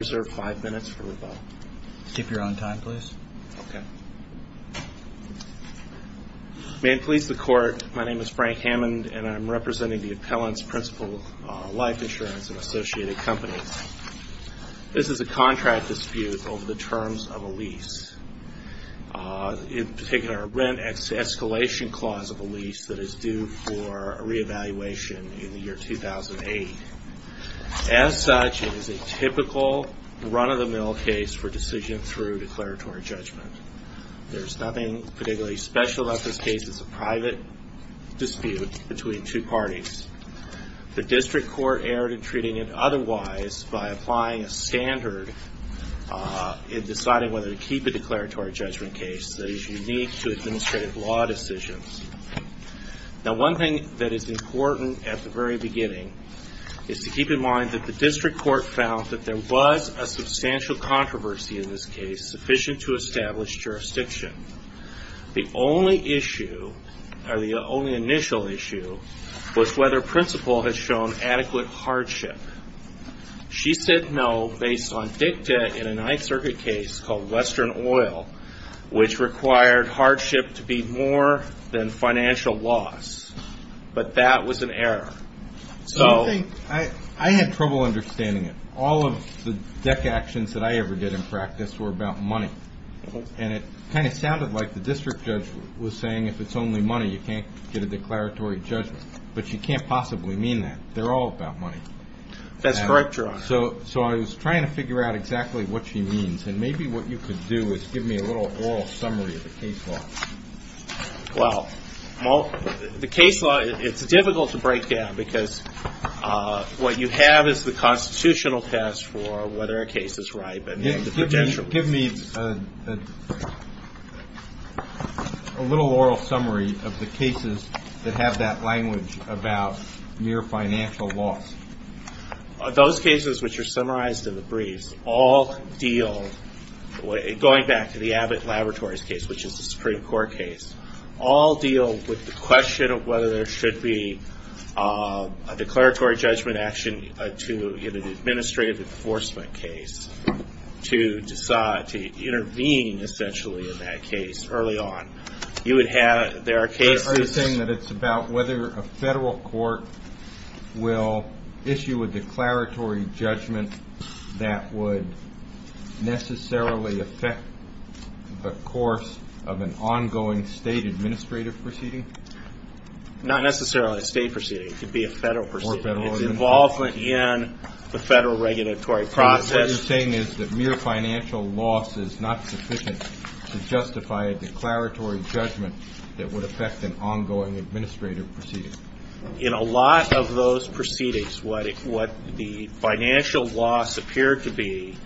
May it please the Court, my name is Frank Hammond and I am representing the Appellants Principal Life Insurance and Associated Companies. This is a contract dispute over the terms of a lease, in particular a rent escalation clause of a lease that is due for re-evaluation in the year 2008. As such, it is a typical run-of-the-mill case for decision through declaratory judgment. There is nothing particularly special about this case. It is a private dispute between two parties. The District Court erred in treating it otherwise by applying a standard in deciding whether to keep a declaratory judgment case that is unique to administrative law decisions. Now one thing that is important at the very beginning is to keep in mind that the District Court found that there was a substantial controversy in this case sufficient to establish jurisdiction. The only issue, or the only initial issue, was whether Principal had shown adequate hardship. She said no based on dicta in a Ninth Circuit case called Western Oil, which required hardship to be more than financial loss, but that was an error. So I had trouble understanding it. All of the dicta actions that I ever did in practice were about money, and it kind of sounded like the District Judge was saying if it's only money you can't get a declaratory judgment, but she can't possibly mean that. They're all about money. That's correct, Your Honor. So I was trying to figure out exactly what she means, and maybe what you could do is give me a little oral summary of the case law. Well, the case law, it's difficult to break down because what you have is the constitutional test for whether a case is ripe. Give me a little oral summary of the cases that have that language about mere financial loss. Those cases which are summarized in the briefs all deal, going back to the Abbott Laboratories case, which is a Supreme Court case, all deal with the question of whether there should be a declaratory judgment action in an administrative enforcement case to intervene, essentially, in that case early on. You would have, there are cases... Are you saying that it's about whether a federal court will issue a declaratory judgment that would necessarily affect the course of an ongoing state administrative proceeding? Not necessarily a state proceeding. It could be a federal proceeding. It's involvement in the federal regulatory process. So what you're saying is that mere financial loss is not sufficient to justify a declaratory judgment that would affect an ongoing administrative proceeding? In a lot of those proceedings, what the financial loss appeared to be,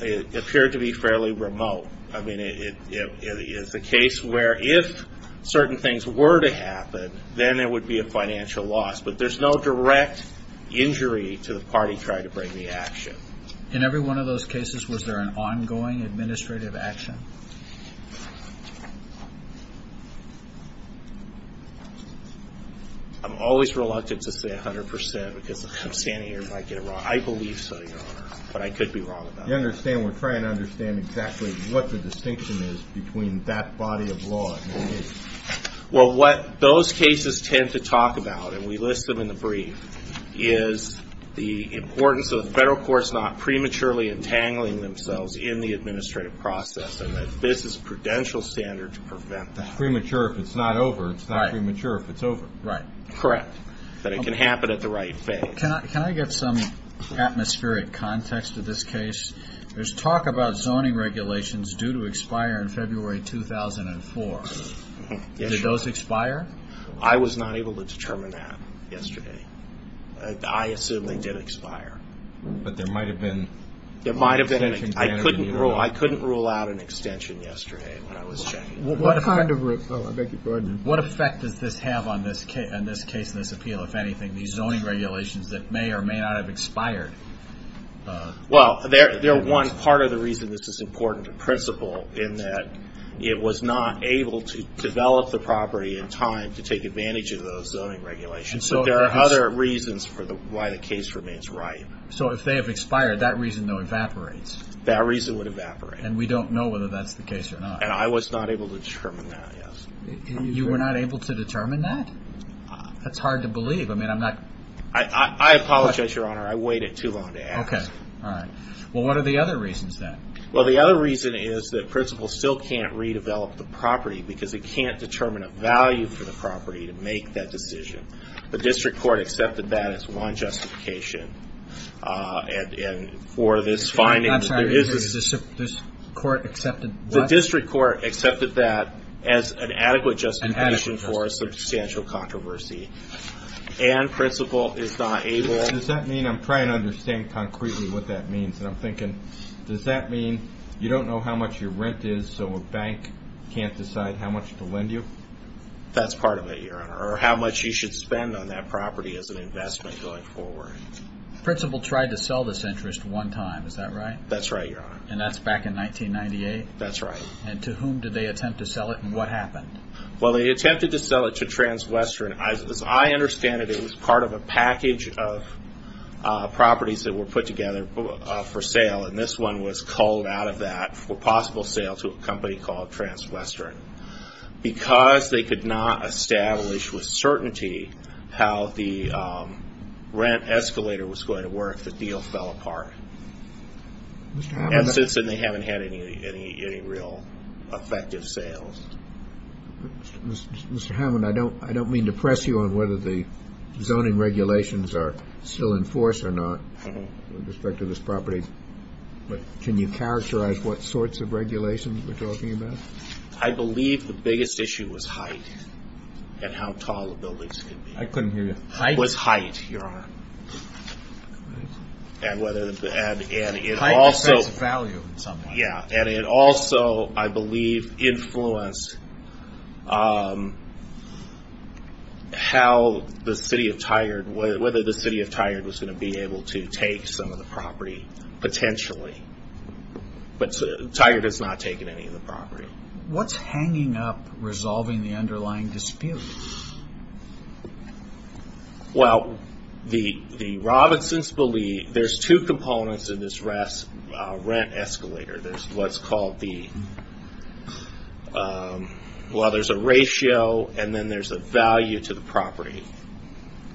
it appeared to be fairly remote. I mean, it's a case where if certain things were to happen, then there would be a financial loss, but there's no direct injury to the party trying to bring the action. In every one of those cases, was there an ongoing administrative action? I'm always reluctant to say 100% because I'm standing here and I might get it wrong. I believe so, Your Honor, but I could be wrong about it. You understand we're trying to understand exactly what the distinction is between that body of law and the case. Well, what those cases tend to talk about, and we list them in the brief, is the importance of the federal courts not prematurely entangling themselves in the administrative process, and that this is a prudential standard to prevent that. It's premature if it's not over. It's not premature if it's over. Right. Correct. But it can happen at the right phase. Can I get some atmospheric context of this case? There's talk about zoning regulations due to expire in February 2004. Did those expire? I was not able to determine that yesterday. I assume they did expire. But there might have been... I couldn't rule out an extension yesterday when I was checking. What effect does this have on this case and this appeal, if anything, these zoning regulations that may or may not have expired? Well, they're one part of the reason this is important in principle, in that it was not able to develop the property in time to take advantage of those zoning regulations. So there are other reasons for why the case remains ripe. So if they have expired, that reason, though, evaporates. That reason would evaporate. And we don't know whether that's the case or not. And I was not able to determine that, yes. You were not able to determine that? That's hard to believe. I mean, I'm not... I apologize, Your Honor. I waited too long to ask. Okay. All right. Well, what are the other reasons, then? Well, the other reason is that principle still can't redevelop the property because it can't determine a value for the property to make that decision. The district court accepted that as one justification. And for this finding, there is... I'm sorry. The district court accepted what? The district court accepted that as an adequate justification for a substantial controversy. And principle is not able... Does that mean... I'm trying to concretely what that means. And I'm thinking, does that mean you don't know how much your rent is, so a bank can't decide how much to lend you? That's part of it, Your Honor. Or how much you should spend on that property as an investment going forward. Principle tried to sell this interest one time. Is that right? That's right, Your Honor. And that's back in 1998? That's right. And to whom did they attempt to sell it? And what happened? Well, they attempted to sell it to Transwestern. As I understand it, it was part of a package of properties that were put together for sale. And this one was culled out of that for possible sale to a company called Transwestern. Because they could not establish with certainty how the rent escalator was going to work, the deal fell apart. And since then, they haven't had any real effective sales. Mr. Hammond, I don't mean to press you on whether the zoning regulations are still in force or not with respect to this property. But can you characterize what sorts of regulations we're talking about? I believe the biggest issue was height and how tall the buildings could be. I couldn't hear you. Height. It was height, Your Honor. And whether... Height decides value in some way. Yeah. And it also, I believe, influenced how the city of Tigard, whether the city of Tigard was going to be able to take some of the property potentially. But Tigard has not taken any of the property. What's hanging up resolving the underlying dispute? Well, the Robinsons believe there's two components in this rent escalator. There's what's called the... Well, there's a ratio and then there's a value to the property.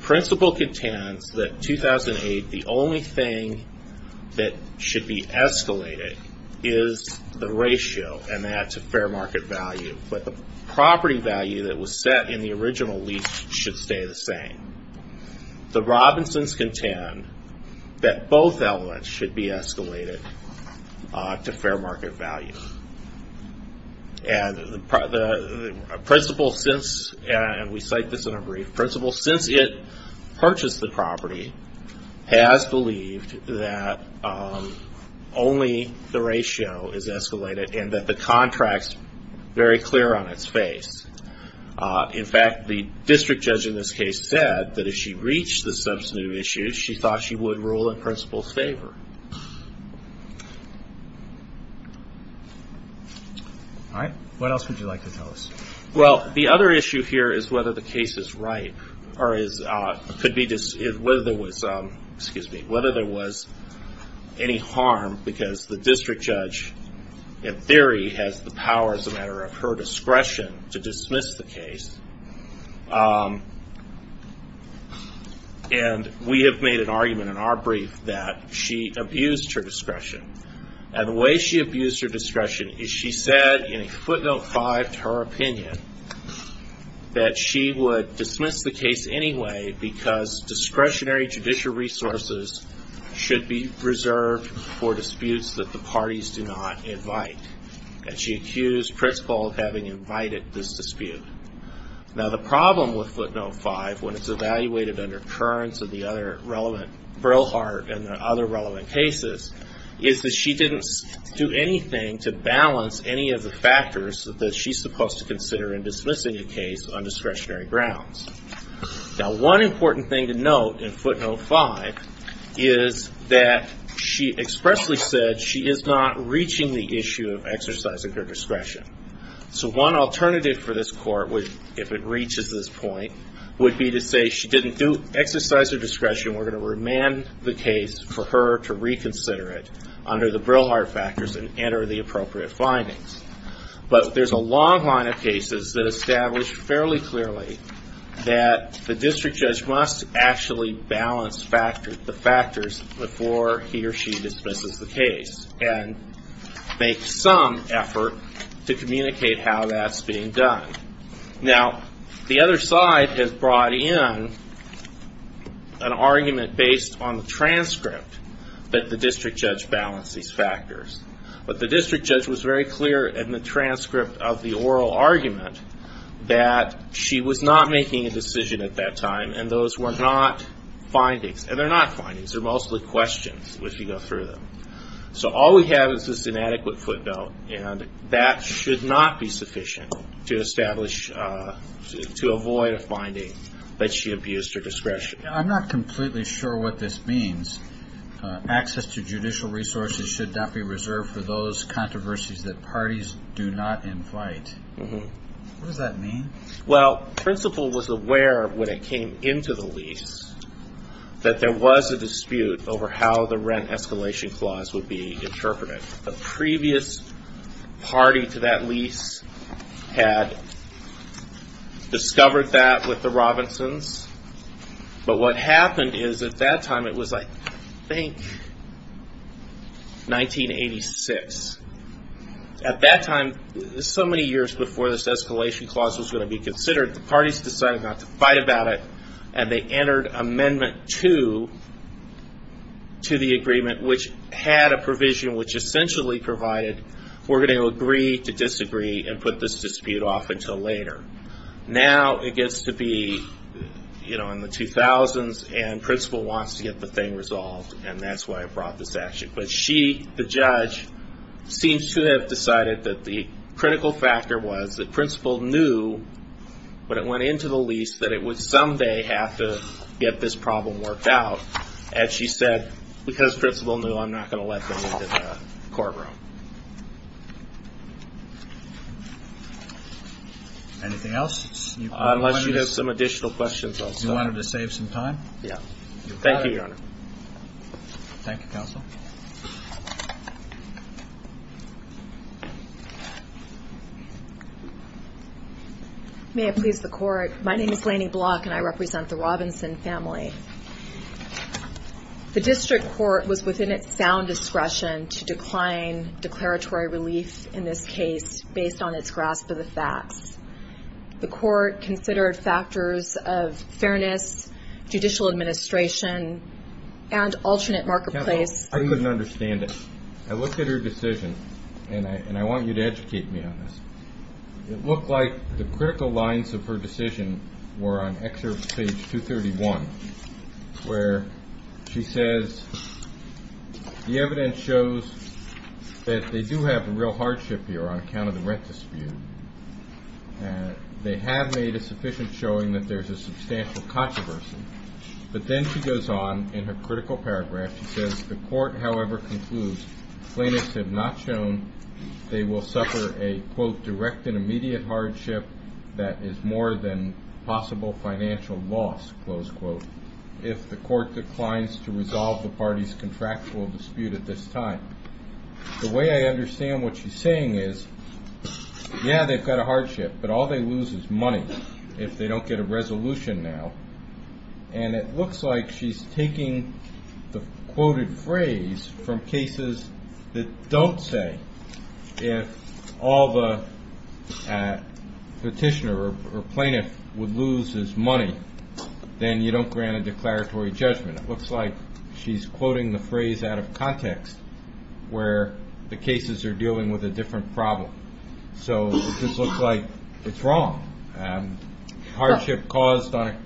Principle contends that 2008, the only thing that should be escalated is the ratio and that's a fair value. But the property value that was set in the original lease should stay the same. The Robinsons contend that both elements should be escalated to fair market value. And the principle since, and we cite this in a brief, principle since it purchased the property has believed that only the ratio is escalated and that the contract's very clear on its face. In fact, the district judge in this case said that if she reached the substantive issue, she thought she would rule in principle's favor. All right. What else would you like to tell us? Well, the other issue here is whether the case is ripe or whether there was, excuse me, whether there was any harm because the district judge in theory has the power as a matter of her discretion to dismiss the case. And we have made an argument in our brief that she abused her opinion, that she would dismiss the case anyway because discretionary judicial resources should be reserved for disputes that the parties do not invite. And she accused principle of having invited this dispute. Now, the problem with footnote five, when it's evaluated under Kearns and the other relevant, Brillhart and the other relevant cases, is that she didn't do anything to in dismissing a case on discretionary grounds. Now, one important thing to note in footnote five is that she expressly said she is not reaching the issue of exercising her discretion. So one alternative for this court would, if it reaches this point, would be to say she didn't do exercise her discretion. We're going to remand the case for her to reconsider it under the established fairly clearly that the district judge must actually balance the factors before he or she dismisses the case and make some effort to communicate how that's being done. Now, the other side has brought in an argument based on the transcript that the district judge balanced these factors. But the district judge was very clear in the transcript of the oral argument that she was not making a decision at that time and those were not findings. And they're not findings. They're mostly questions as you go through them. So all we have is this inadequate footnote and that should not be sufficient to establish, to avoid a finding that she abused her discretion. I'm not completely sure what this means. Access to judicial resources should not be reserved for those controversies that parties do not invite. What does that mean? Well, principal was aware when it came into the lease that there was a dispute over how the rent escalation clause would be interpreted. The previous party to that lease had discovered that with the Robinsons. But what happened is at that time it was, I think, 1986. At that time, so many years before this escalation clause was going to be considered, the parties decided not to fight about it and they entered Amendment 2 to the agreement which had a provision which essentially provided we're going to agree to later. Now it gets to be in the 2000s and principal wants to get the thing resolved and that's why I brought this action. But she, the judge, seems to have decided that the critical factor was that principal knew when it went into the lease that it would someday have to get this problem worked out. And she said, because principal knew, I'm not going to let them into the Anything else? Unless you have some additional questions also. You wanted to save some time? Yeah. Thank you, Your Honor. Thank you, counsel. May it please the court. My name is Lanie Block and I represent the Robinson family. The district court was within its sound discretion to decline declaratory relief in this case based on its grasp of the facts. The court considered factors of fairness, judicial administration, and alternate marketplace. I couldn't understand it. I looked at her decision, and I want you to educate me on this. It looked like the critical lines of her decision were on excerpt page 231, where she says the evidence shows that they do have a real dispute. They have made a sufficient showing that there's a substantial controversy. But then she goes on in her critical paragraph. She says the court, however, concludes plaintiffs have not shown they will suffer a, quote, direct and immediate hardship that is more than possible financial loss, close quote, if the court declines to resolve the party's contractual dispute at this time. The way I understand what she's saying is, yeah, they've got a hardship, but all they lose is money if they don't get a resolution now. And it looks like she's taking the quoted phrase from cases that don't say, if all the petitioner or plaintiff would lose his money, then you don't grant a declaratory judgment. It looks like she's quoting the phrase out of context where the cases are dealing with a different problem. So it just looks like it's wrong. Hardship caused on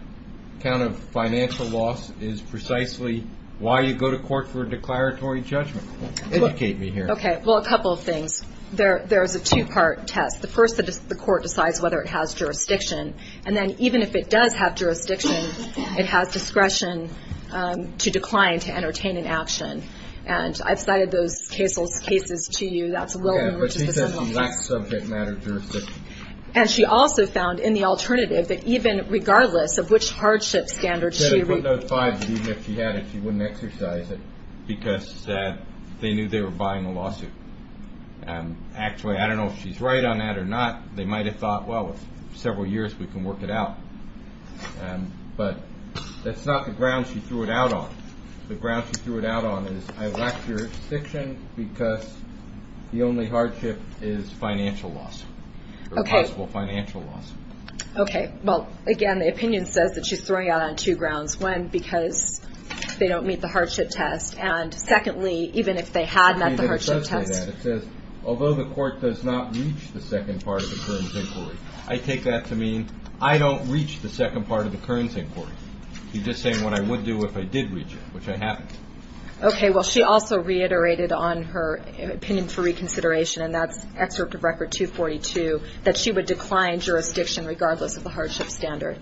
account of financial loss is precisely why you go to court for a declaratory judgment. Educate me here. Okay, well, a couple of things. There's a two-part test. The first is the court decides whether it has jurisdiction, and then even if it does have jurisdiction, it has discretion to decline to entertain an action. And I've cited those cases to you. And she also found, in the alternative, that even regardless of which hardship standard she would put, even if she had it, she wouldn't exercise it because they knew they were buying a lawsuit. Actually, I don't know if she's right on that or not. They might have thought, well, several years, we can work it out. But that's not the ground she threw it out on. The ground she threw it out on is, I lack jurisdiction because the only hardship is financial loss, or possible financial loss. Okay, well, again, the opinion says that she's throwing out on two grounds. One, because they don't meet the hardship test. And secondly, even if they had met the hardship test. It says, although the court does not reach the second part of the current inquiry. I take that to mean I don't reach the second part of the current inquiry. You're just saying what I would do if I did reach it, which I haven't. Okay, well, she also reiterated on her opinion for reconsideration, and that's excerpt of Record 242, that she would decline jurisdiction regardless of the hardship standard.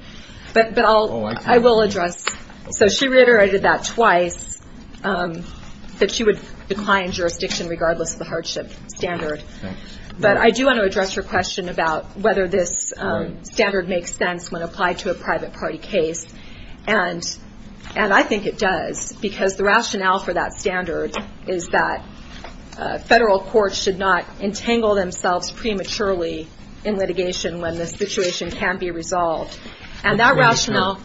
But I will address, so she reiterated that twice, that she would decline jurisdiction regardless of the hardship standard. But I do want to address her question about whether this standard makes sense when applied to a private party case. And I think it does, because the rationale for that standard is that federal courts should not entangle themselves prematurely in litigation when the situation can be resolved. And that rationale,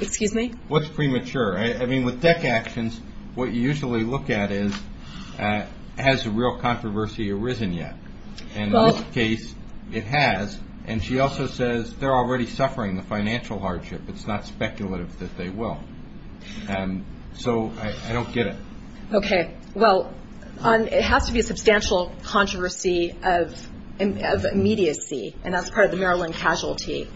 excuse me? What's premature? I mean, with DEC actions, what you usually look at is, has the real controversy arisen yet? In this case, it has. And she also says they're already suffering the financial hardship. It's not speculative that they will. So I don't get it. Okay, well, it has to be a substantial controversy of immediacy, and that's part of the Maryland casualty.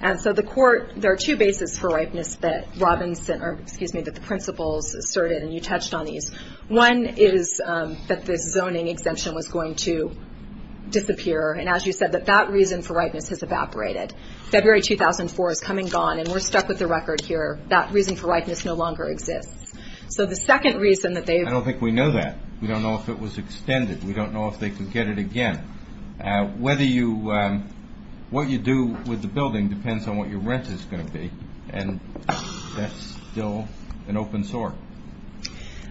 And so the court, there are two bases for ripeness that Robinson, or excuse me, that the principles asserted, and you touched on these. One is that this zoning exemption was going to disappear. And as you said, that that reason for ripeness has evaporated. February 2004 is come and gone, and we're stuck with the record here. That reason for ripeness no longer exists. So the second reason that they... I don't think we know that. We don't know if it was extended. We don't know if they can get it again. Whether you, what you do with the building depends on what your rent is going to be. And that's still an open sore.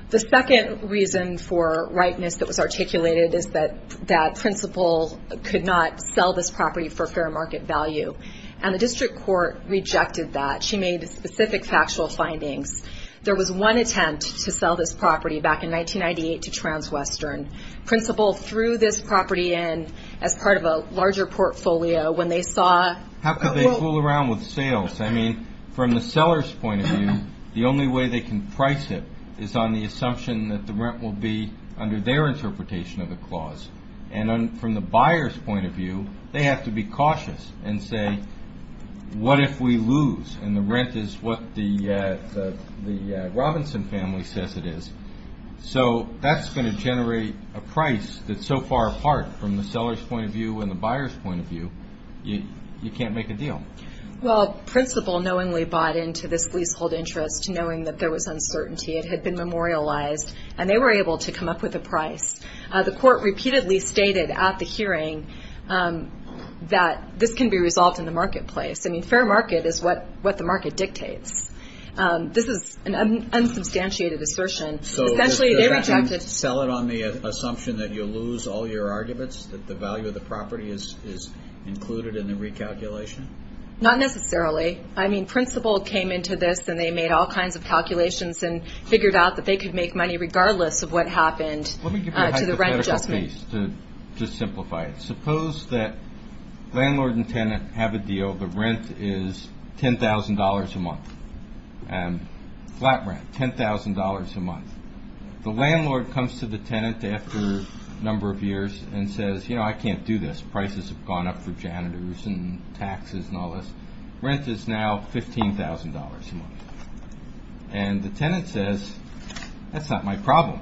The second reason for ripeness that was articulated is that that principal could not sell this property for fair market value. And the district court rejected that. She made specific factual findings. There was one attempt to sell this property back in 1998 to Transwestern. Principal threw this property in as part of a larger portfolio when they saw... I mean, from the seller's point of view, the only way they can price it is on the assumption that the rent will be under their interpretation of the clause. And from the buyer's point of view, they have to be cautious and say, what if we lose? And the rent is what the Robinson family says it is. So that's going to generate a price that's so far apart from the principal knowingly bought into this leasehold interest, knowing that there was uncertainty. It had been memorialized. And they were able to come up with a price. The court repeatedly stated at the hearing that this can be resolved in the marketplace. I mean, fair market is what the market dictates. This is an unsubstantiated assertion. Essentially, they rejected... Sell it on the assumption that you lose all your arguments, that the value of the property is included in the recalculation? Not necessarily. I mean, principal came into this and they made all kinds of calculations and figured out that they could make money regardless of what happened to the rent adjustment. Let me give you a hypothetical case to just simplify it. Suppose that landlord and tenant have a deal. The rent is $10,000 a month. Flat rent, $10,000 a month. The landlord comes to the tenant after a number of years and says, you know, I can't do this. Prices have gone up for all this. Rent is now $15,000 a month. And the tenant says, that's not my problem.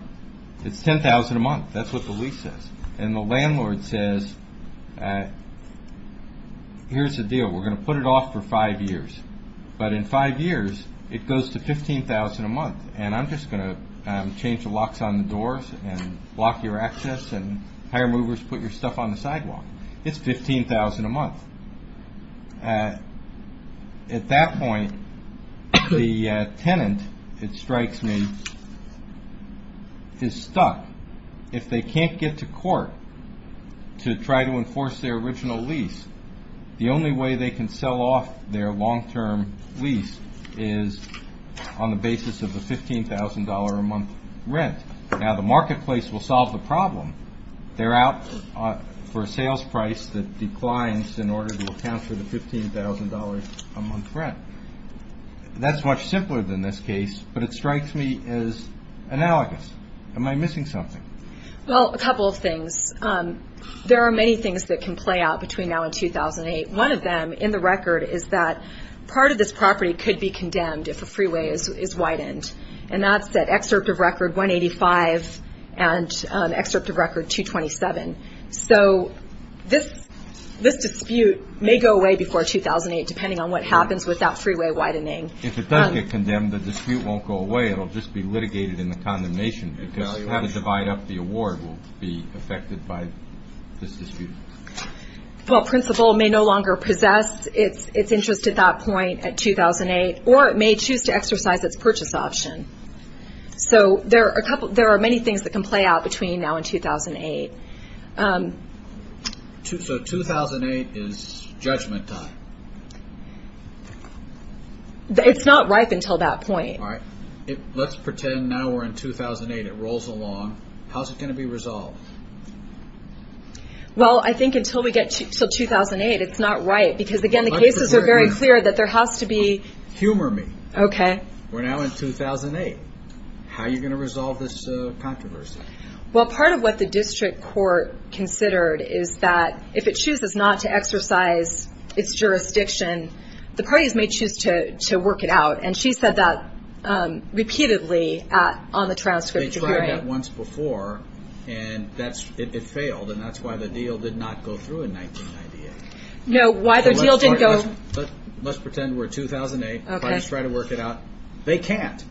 It's $10,000 a month. That's what the lease says. And the landlord says, here's the deal. We're going to put it off for five years. But in five years, it goes to $15,000 a month. And I'm just going to change the locks on the doors and block your access and hire movers to put your stuff on the sidewalk. It's $15,000 a month. At that point, the tenant, it strikes me, is stuck. If they can't get to court to try to enforce their original lease, the only way they can sell off their long-term lease is on the basis of the $15,000 a month rent. Now the marketplace will solve the problem. They're out for a sales price that declines in order to account for the $15,000 a month rent. That's much simpler than this case, but it strikes me as analogous. Am I missing something? Well, a couple of things. There are many things that can play out between now and 2008. One of them in the record is that part of this property could be condemned if a freeway is widened. And that's that excerpt of record 185 and excerpt of record 227. So this dispute may go away before 2008, depending on what happens with that freeway widening. If it does get condemned, the dispute won't go away. It'll just be litigated in the condemnation because having to divide up the award will be affected by this dispute. The principal may no longer possess its interest at that point at 2008, or it may choose to exercise its purchase option. So there are many things that can play out between now and 2008. So 2008 is judgment time? It's not ripe until that point. All right. Let's pretend now we're in 2008. It rolls along. How's it going to be resolved? Well, I think until we get to 2008, it's not ripe because again, the cases are very clear that there has to be... Humor me. Okay. We're now in 2008. How are you going to resolve this controversy? Well, part of what the district court considered is that if it chooses not to exercise its jurisdiction, the parties may choose to work it out. And she said that repeatedly on the transcript. They tried that once before and it failed. And that's why the deal did not go through in 1998. No, why the deal didn't go... Let's pretend we're in 2008. The parties try to work it out. They can't.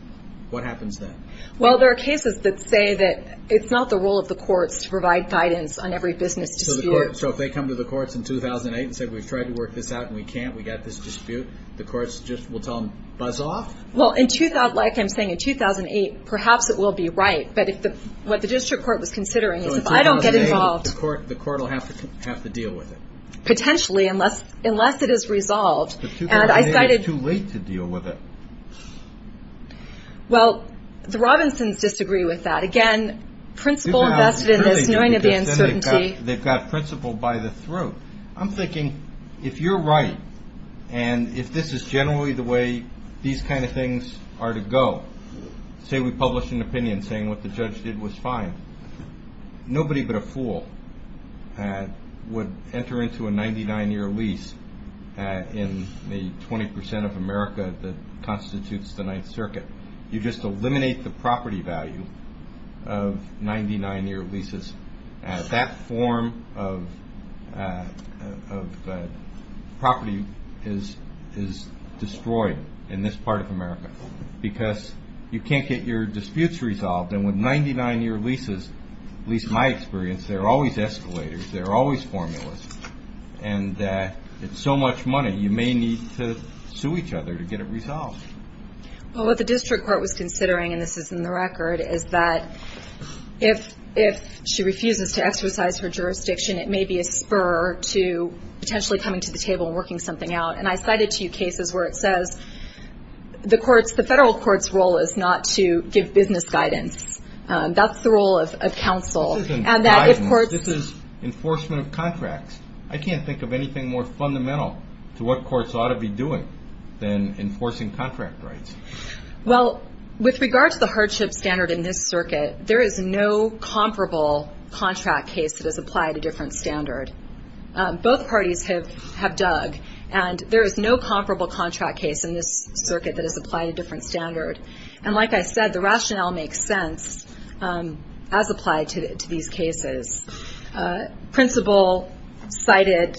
What happens then? Well, there are cases that say that it's not the role of the courts to provide guidance on every business dispute. So if they come to the courts in 2008 and say, we've tried to work this out and we can't, we got this dispute, the courts just will tell them, buzz off? Well, like I'm saying in 2008, perhaps it will be right. But what the district court was considering is if I don't get involved... So in 2008, the court will have to deal with it? Potentially, unless it is resolved. And I decided... But 2008, it's too late to deal with it. Well, the Robinsons disagree with that. Again, principle invested in this knowing of the uncertainty. They've got principle by the throat. I'm thinking, if you're right, and if this is the way these kind of things are to go, say we publish an opinion saying what the judge did was fine, nobody but a fool would enter into a 99-year lease in the 20% of America that constitutes the Ninth Circuit. You just eliminate the property value of 99-year leases. That form of property is destroyed in this part of America because you can't get your disputes resolved. And with 99-year leases, at least in my experience, there are always escalators, there are always formulas. And it's so much money, you may need to sue each other to get it resolved. Well, what the district court was considering, and this is in the record, is that if she refuses to exercise her jurisdiction, it may be a spur to potentially coming to the table and working something out. And I cited two cases where it says the federal court's role is not to give business guidance. That's the role of counsel. This isn't guidance. This is enforcement of contracts. I can't think of anything more fundamental to what courts ought to be doing than enforcing contract rights. Well, with regard to the hardship standard in this circuit, there is no comparable contract case that has applied a different standard. Both parties have dug, and there is no comparable contract case in this circuit that has applied a different standard. And like I said, the rationale makes sense as applied to these cases. Principal cited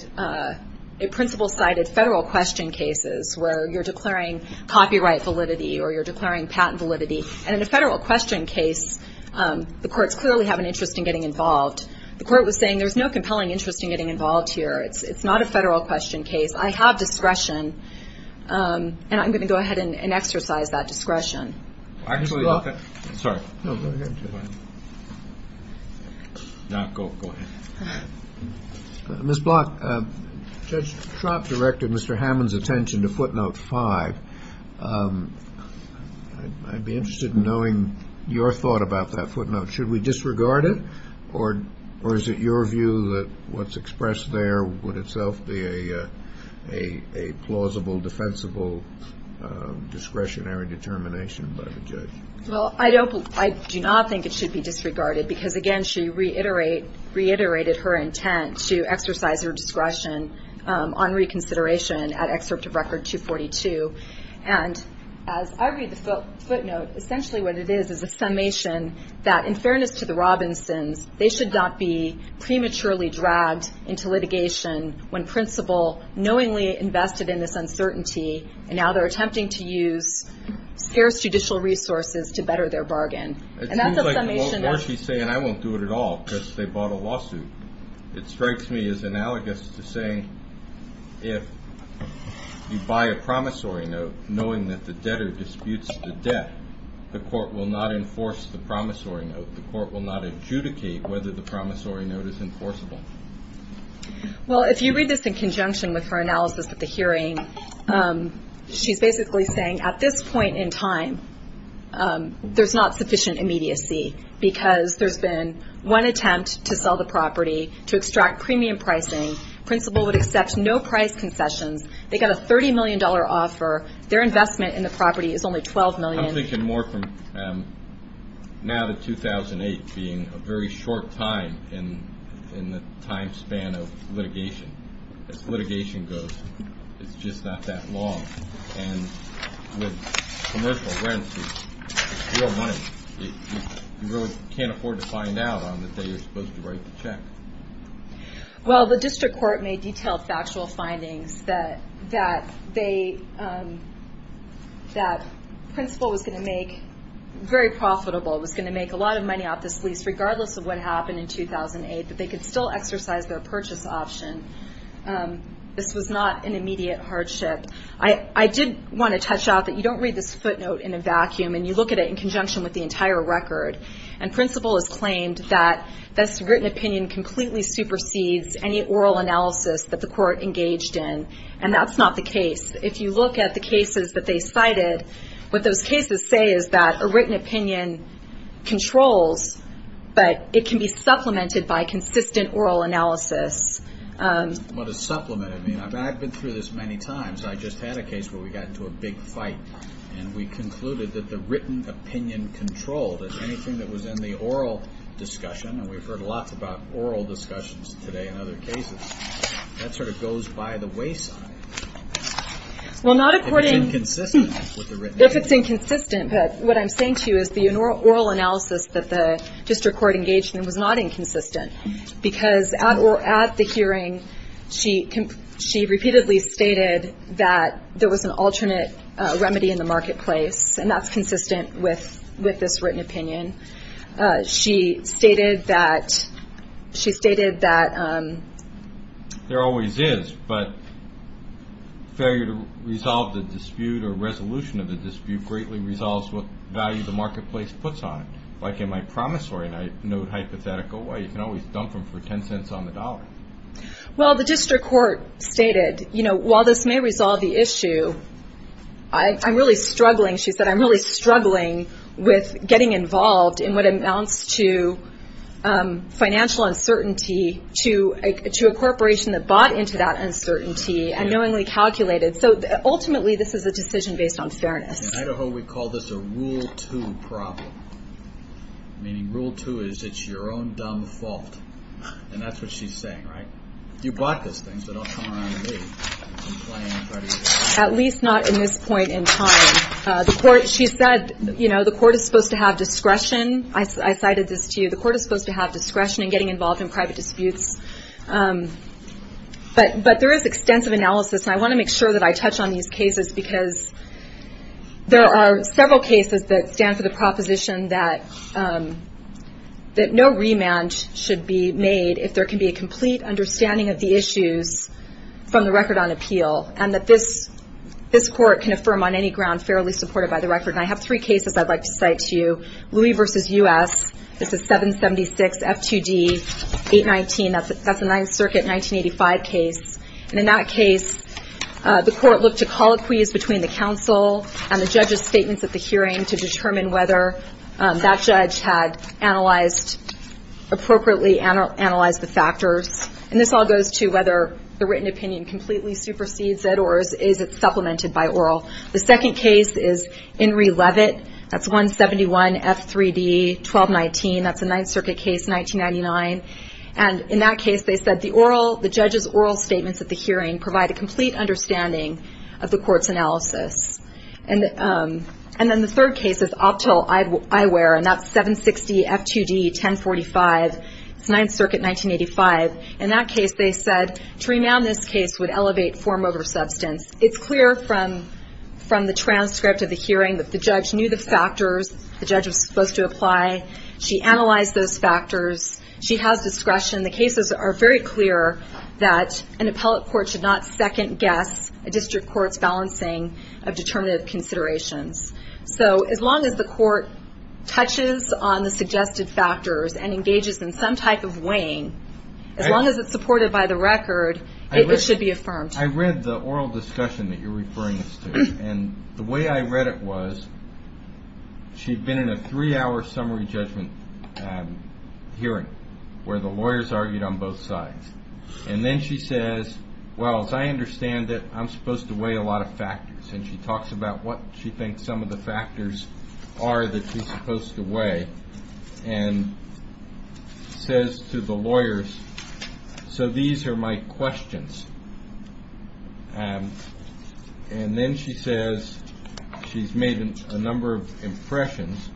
federal question cases where you're declaring copyright validity or you're declaring patent validity. And in a federal question case, the courts clearly have an interest in getting involved. The court was saying there's no compelling interest in getting involved here. It's not a federal question case. I have discretion, and I'm going to go ahead and exercise that discretion. Actually, I'm sorry. Now, go ahead. Ms. Block, Judge Trott directed Mr. Hammond's attention to footnote five. I'd be interested in knowing your thought about that footnote. Should we disregard it? Or is it your view that what's expressed there would itself be a plausible, defensible, discretionary determination by the judge? Well, I do not think it should be disregarded. Because again, she reiterated her intent to exercise her discretion on reconsideration at Excerpt of Record 242. And as I read the footnote, essentially what it is is a summation that in fairness to the Robinsons, they should not be prematurely dragged into litigation when principal knowingly invested in this uncertainty. And now they're attempting to use scarce judicial resources to better their bargain. And that's a summation that... It seems like what Marcy's saying, I won't do it at all because they bought a lawsuit. It strikes me as analogous to saying if you buy a promissory note knowing that the debtor disputes the debt, the court will not enforce the promissory note. The court will not adjudicate whether the promissory note is enforceable. Well, if you read this in conjunction with her analysis at the hearing, she's basically saying at this point in time, there's not sufficient immediacy because there's been one attempt to sell the property, to extract premium pricing. Principal would accept no price concessions. They got a $30 million offer. Their investment in the property is only $12 million. I'm thinking more from now to 2008 being a very short time in the time span of litigation. As litigation goes, it's just not that long. And with commercial rents, you really can't afford to find out on the day you're supposed to write the check. Well, the district court made detailed factual findings that Principal was going to make very profitable. It was going to make a lot of money off this lease regardless of what happened in 2008, but they could still exercise their purchase option. This was not an immediate hardship. I did want to touch out that you don't read this footnote in a vacuum and you look at it in conjunction with the entire record. Principal has claimed that this written opinion completely supersedes any oral analysis that the court engaged in, and that's not the case. If you look at the cases that they cited, what those cases say is that a written opinion controls, but it can be supplemented by consistent oral analysis. What does supplemented mean? I've been through this many times. I just had a case where we got into a big fight and we concluded that the written opinion controlled anything that was in the oral discussion, and we've heard a lot about oral discussions today in other cases. That sort of goes by the wayside. If it's inconsistent with the written opinion. If it's inconsistent, but what I'm saying to you is the oral analysis that the district court engaged in was not inconsistent because at the hearing, she repeatedly stated that there was an alternate remedy in the marketplace, and that's consistent with this written opinion. She stated that there always is, but failure to resolve the dispute or resolution of the dispute greatly resolves what value the marketplace puts on it. Like in my promissory note hypothetical, you can always dump them for 10 cents on the dollar. The district court stated, while this may resolve the issue, I'm really struggling, she said, I'm really struggling with getting involved in what amounts to financial uncertainty to a corporation that bought into that uncertainty and knowingly calculated. Ultimately, this is a decision based on fairness. In Idaho, we call this a rule two problem, meaning rule two is it's your own dumb fault, and that's what she's saying, right? You bought this thing, so don't come around to me complaining. At least not in this point in time. She said the court is supposed to have discretion. I cited this to you. The court is supposed to have discretion in getting involved in private disputes, but there is extensive analysis. I want to make sure that I touch on these cases because there are several cases that stand for the proposition that no remand should be made if there can be a complete understanding of the issues from the record on appeal, and that this court can affirm on any ground fairly supported by the record. I have three cases I'd like to cite to you. Louis v. U.S. This is 776 F2D 819. That's a 9th Circuit 1985 case, and in that case, the court looked to colloquies between the counsel and the judge's statements at the hearing to determine whether that judge had appropriately analyzed the factors, and this all goes to whether the written opinion completely supersedes it or is it supplemented by oral. The second case is Henry Levitt. That's 171 F3D 1219. That's a 9th Circuit case 1999, and in that case, they said the judge's oral statements at the hearing provide a complete understanding of the court's analysis, and then the third case is Optal Eyewear, and that's 760 F2D 1045. It's 9th Circuit 1985. In that case, they said to remand this case would elevate form over substance. It's clear from the transcript of the hearing that the judge knew the factors the judge was supposed to apply. She analyzed those factors. She has discretion. The cases are very clear that an appellate court should not second-guess a district court's balancing of determinative considerations, so as long as the court touches on the suggested factors and engages in some type of weighing, as long as it's supported by the record, it should be affirmed. I read the oral discussion that you're referring us to, and the way I read it was she'd been in a three-hour summary judgment hearing where the lawyers argued on both sides, and then she says, well, as I understand it, I'm supposed to weigh a lot of factors, and she talks about what she thinks some of the factors are that she's supposed to weigh, and says to the lawyers, so these are my questions, and then she says she's made a number of impressions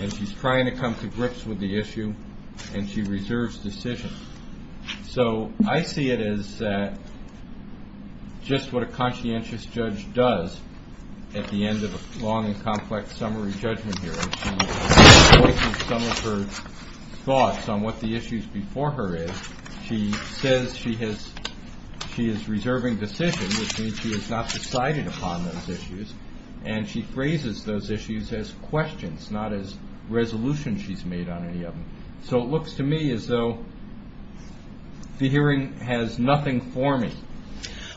and she's trying to come to grips with the issue, and she reserves decision. So I see it as that just what a conscientious judge does at the end of a long and complex summary judgment hearing, she voices some of her thoughts on what the issues before her is. She says she is reserving decision, which means she has not decided upon those issues, and she phrases those issues as questions, not as resolutions she's made on any of them. So it looks to me as though the hearing has nothing for me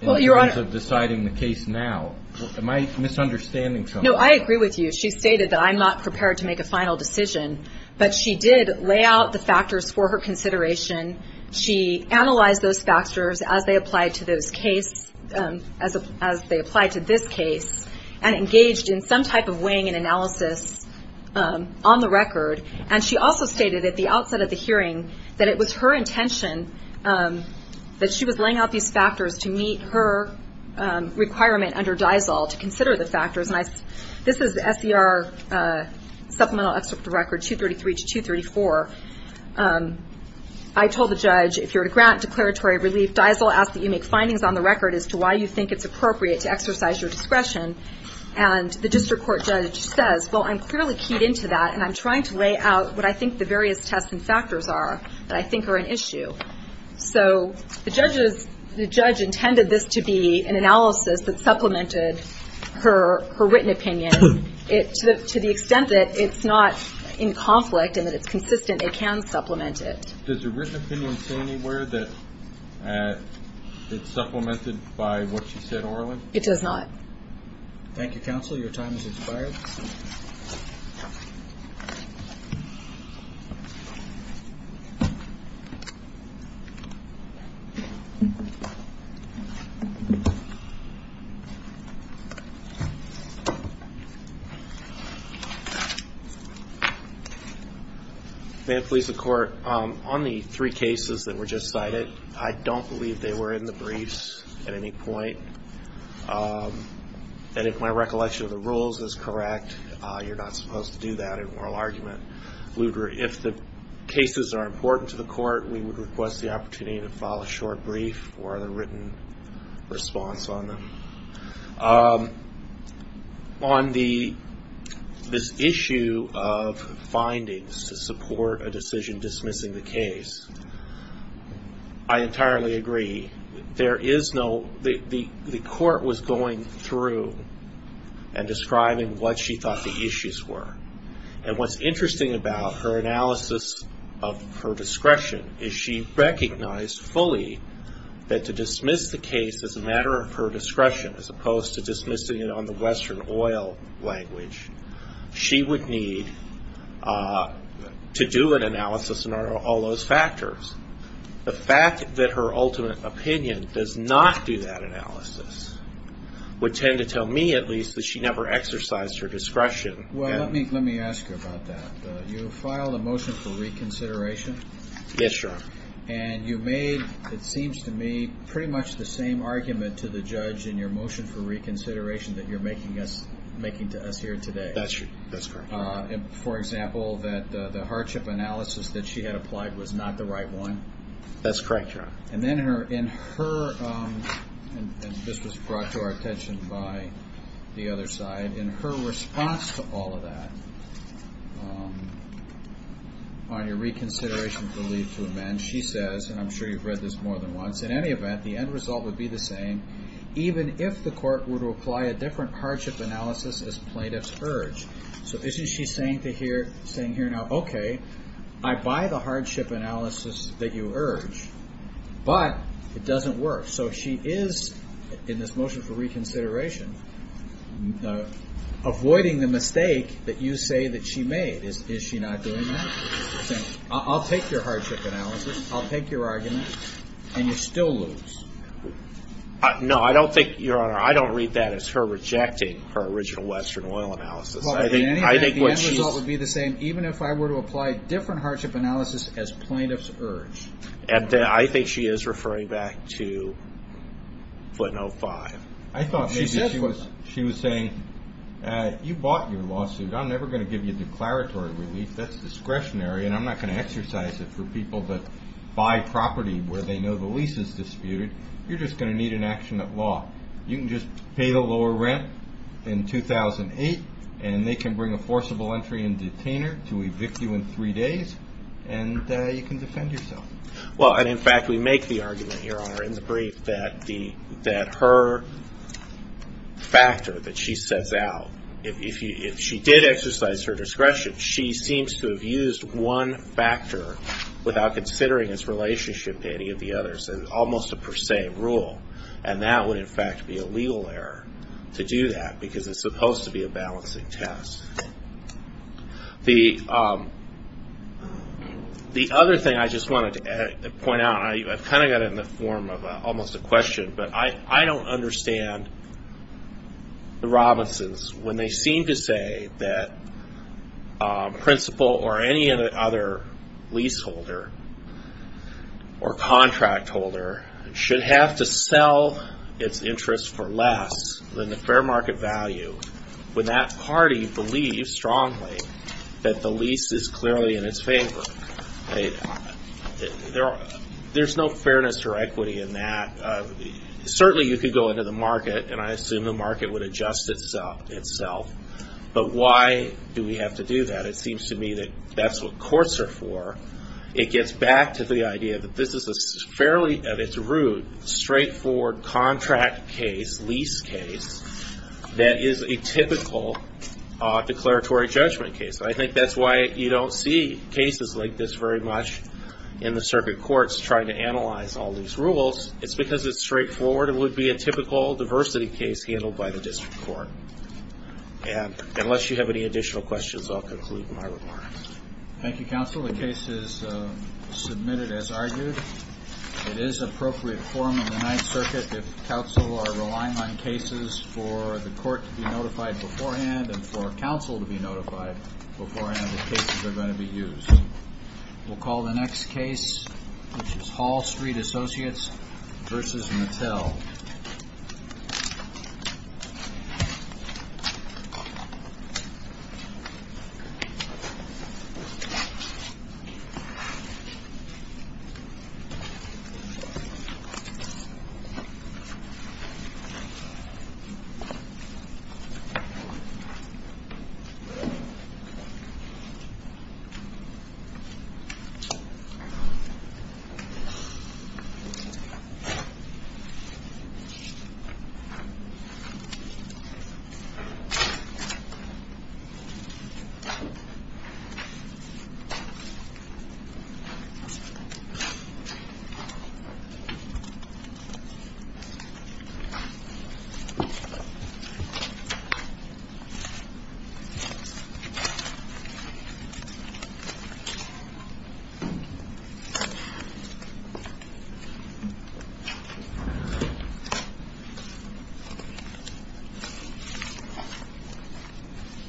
in terms of deciding the case now. Am I misunderstanding something? No, I agree with you. She stated that I'm not prepared to make a final decision, but she did lay out the factors for her consideration. She analyzed those factors as they applied to this case, and engaged in some type of weighing and analysis on the record, and she also stated at the outset of the hearing that it was her intention that she was laying out these factors to meet her requirement under those factors. And this is the SDR supplemental record, 233 to 234. I told the judge, if you're to grant declaratory relief, DIESL asks that you make findings on the record as to why you think it's appropriate to exercise your discretion, and the district court judge says, well, I'm clearly keyed into that, and I'm trying to lay out what I think the various tests and factors are that I think are an issue. So the judge intended this to be an analysis that supplemented her written opinion to the extent that it's not in conflict and that it's consistent, it can supplement it. Does the written opinion say anywhere that it's supplemented by what she said orally? It does not. Thank you, counsel. Your time has expired. May it please the court, on the three cases that were just cited, I don't believe they were in the briefs at any point. And if my recollection of the rules is correct, you're not supposed to do that in oral argument. If the cases are important to the court, we would request the opportunity to file a short brief for the written response on them. On this issue of findings to support a decision dismissing the case, I entirely agree. The court was going through and describing what she thought the issues were. And what's interesting about her analysis of her discretion is she recognized fully that to dismiss the case as a matter of her discretion, as opposed to dismissing it on the Western oil language, she would need to do an analysis in all those factors. The fact that her ultimate opinion does not do that analysis would tend to tell me, at least, that she never exercised her discretion. Let me ask you about that. You filed a motion for reconsideration, and you made, it seems to me, pretty much the same argument to the judge in your motion for reconsideration that you're making to us here today. That's correct. For example, that the hardship analysis that she had applied was not the right one? That's correct, Your Honor. And then in her, and this was brought to our attention by the other side, in her response to all of that, on your reconsideration for leave to amend, she says, and I'm sure you've read this more than once, in any event, the end result would be the same, even if the court were to apply a different hardship analysis as plaintiff's urge. So isn't she saying here now, okay, I buy the hardship analysis that you urge, but it doesn't work. So she is, in this motion for reconsideration, avoiding the mistake that you say that she made. Is she not doing that? She's saying, I'll take your hardship analysis, I'll take your argument, and you still lose. No, I don't think, Your Honor, I don't read that as her rejecting her original Western oil analysis. Well, in any event, the end result would be the same, even if I were to apply a different hardship analysis as plaintiff's urge. And I think she is referring back to footnote five. I thought maybe she was saying, you bought your lawsuit, I'm never going to give you declaratory relief, that's discretionary, and I'm not going to exercise it for people that buy property where they know the lease is disputed, you're just going to need an action at law. You can just pay the lower rent in 2008, and they can bring a forcible entry and detainer to evict you in three days, and you can defend yourself. Well, and in fact, we make the argument, Your Honor, in the brief that her factor that she sets out, if she did exercise her discretion, she seems to have used one factor without considering his relationship to any of the others, and almost a per se rule. And that would, in fact, be a legal error to do that, because it's supposed to be a balancing test. The other thing I just wanted to point out, and I've kind of got it in the form of almost a question, but I don't understand the Robinsons when they seem to say that principal or any other leaseholder or contract holder should have to sell its interest for less than the fair market value, when that party believes strongly that the lease is clearly in its favor. There's no fairness or equity in that. Certainly you could go into the market, and I assume the market would adjust itself, but why do we have to do that? It seems to me that that's what courts are for. It gets back to the idea that this is a fairly, at its root, straightforward contract case, lease case, that is a typical declaratory judgment case. I think that's why you don't see cases like this very much in the circuit courts, trying to analyze all these rules. It's because it's straightforward. It would be a typical diversity case handled by the district court. Unless you have any additional questions, I'll conclude my remarks. Thank you, counsel. The case is submitted as argued. It is appropriate form of the Ninth Circuit if counsel are relying on cases for the court to be notified beforehand and for counsel to be notified beforehand that cases are going to be used. We'll call the next case, which is Hall Street Associates v. Mattel. Thank you, counsel. Thank you. Thank you.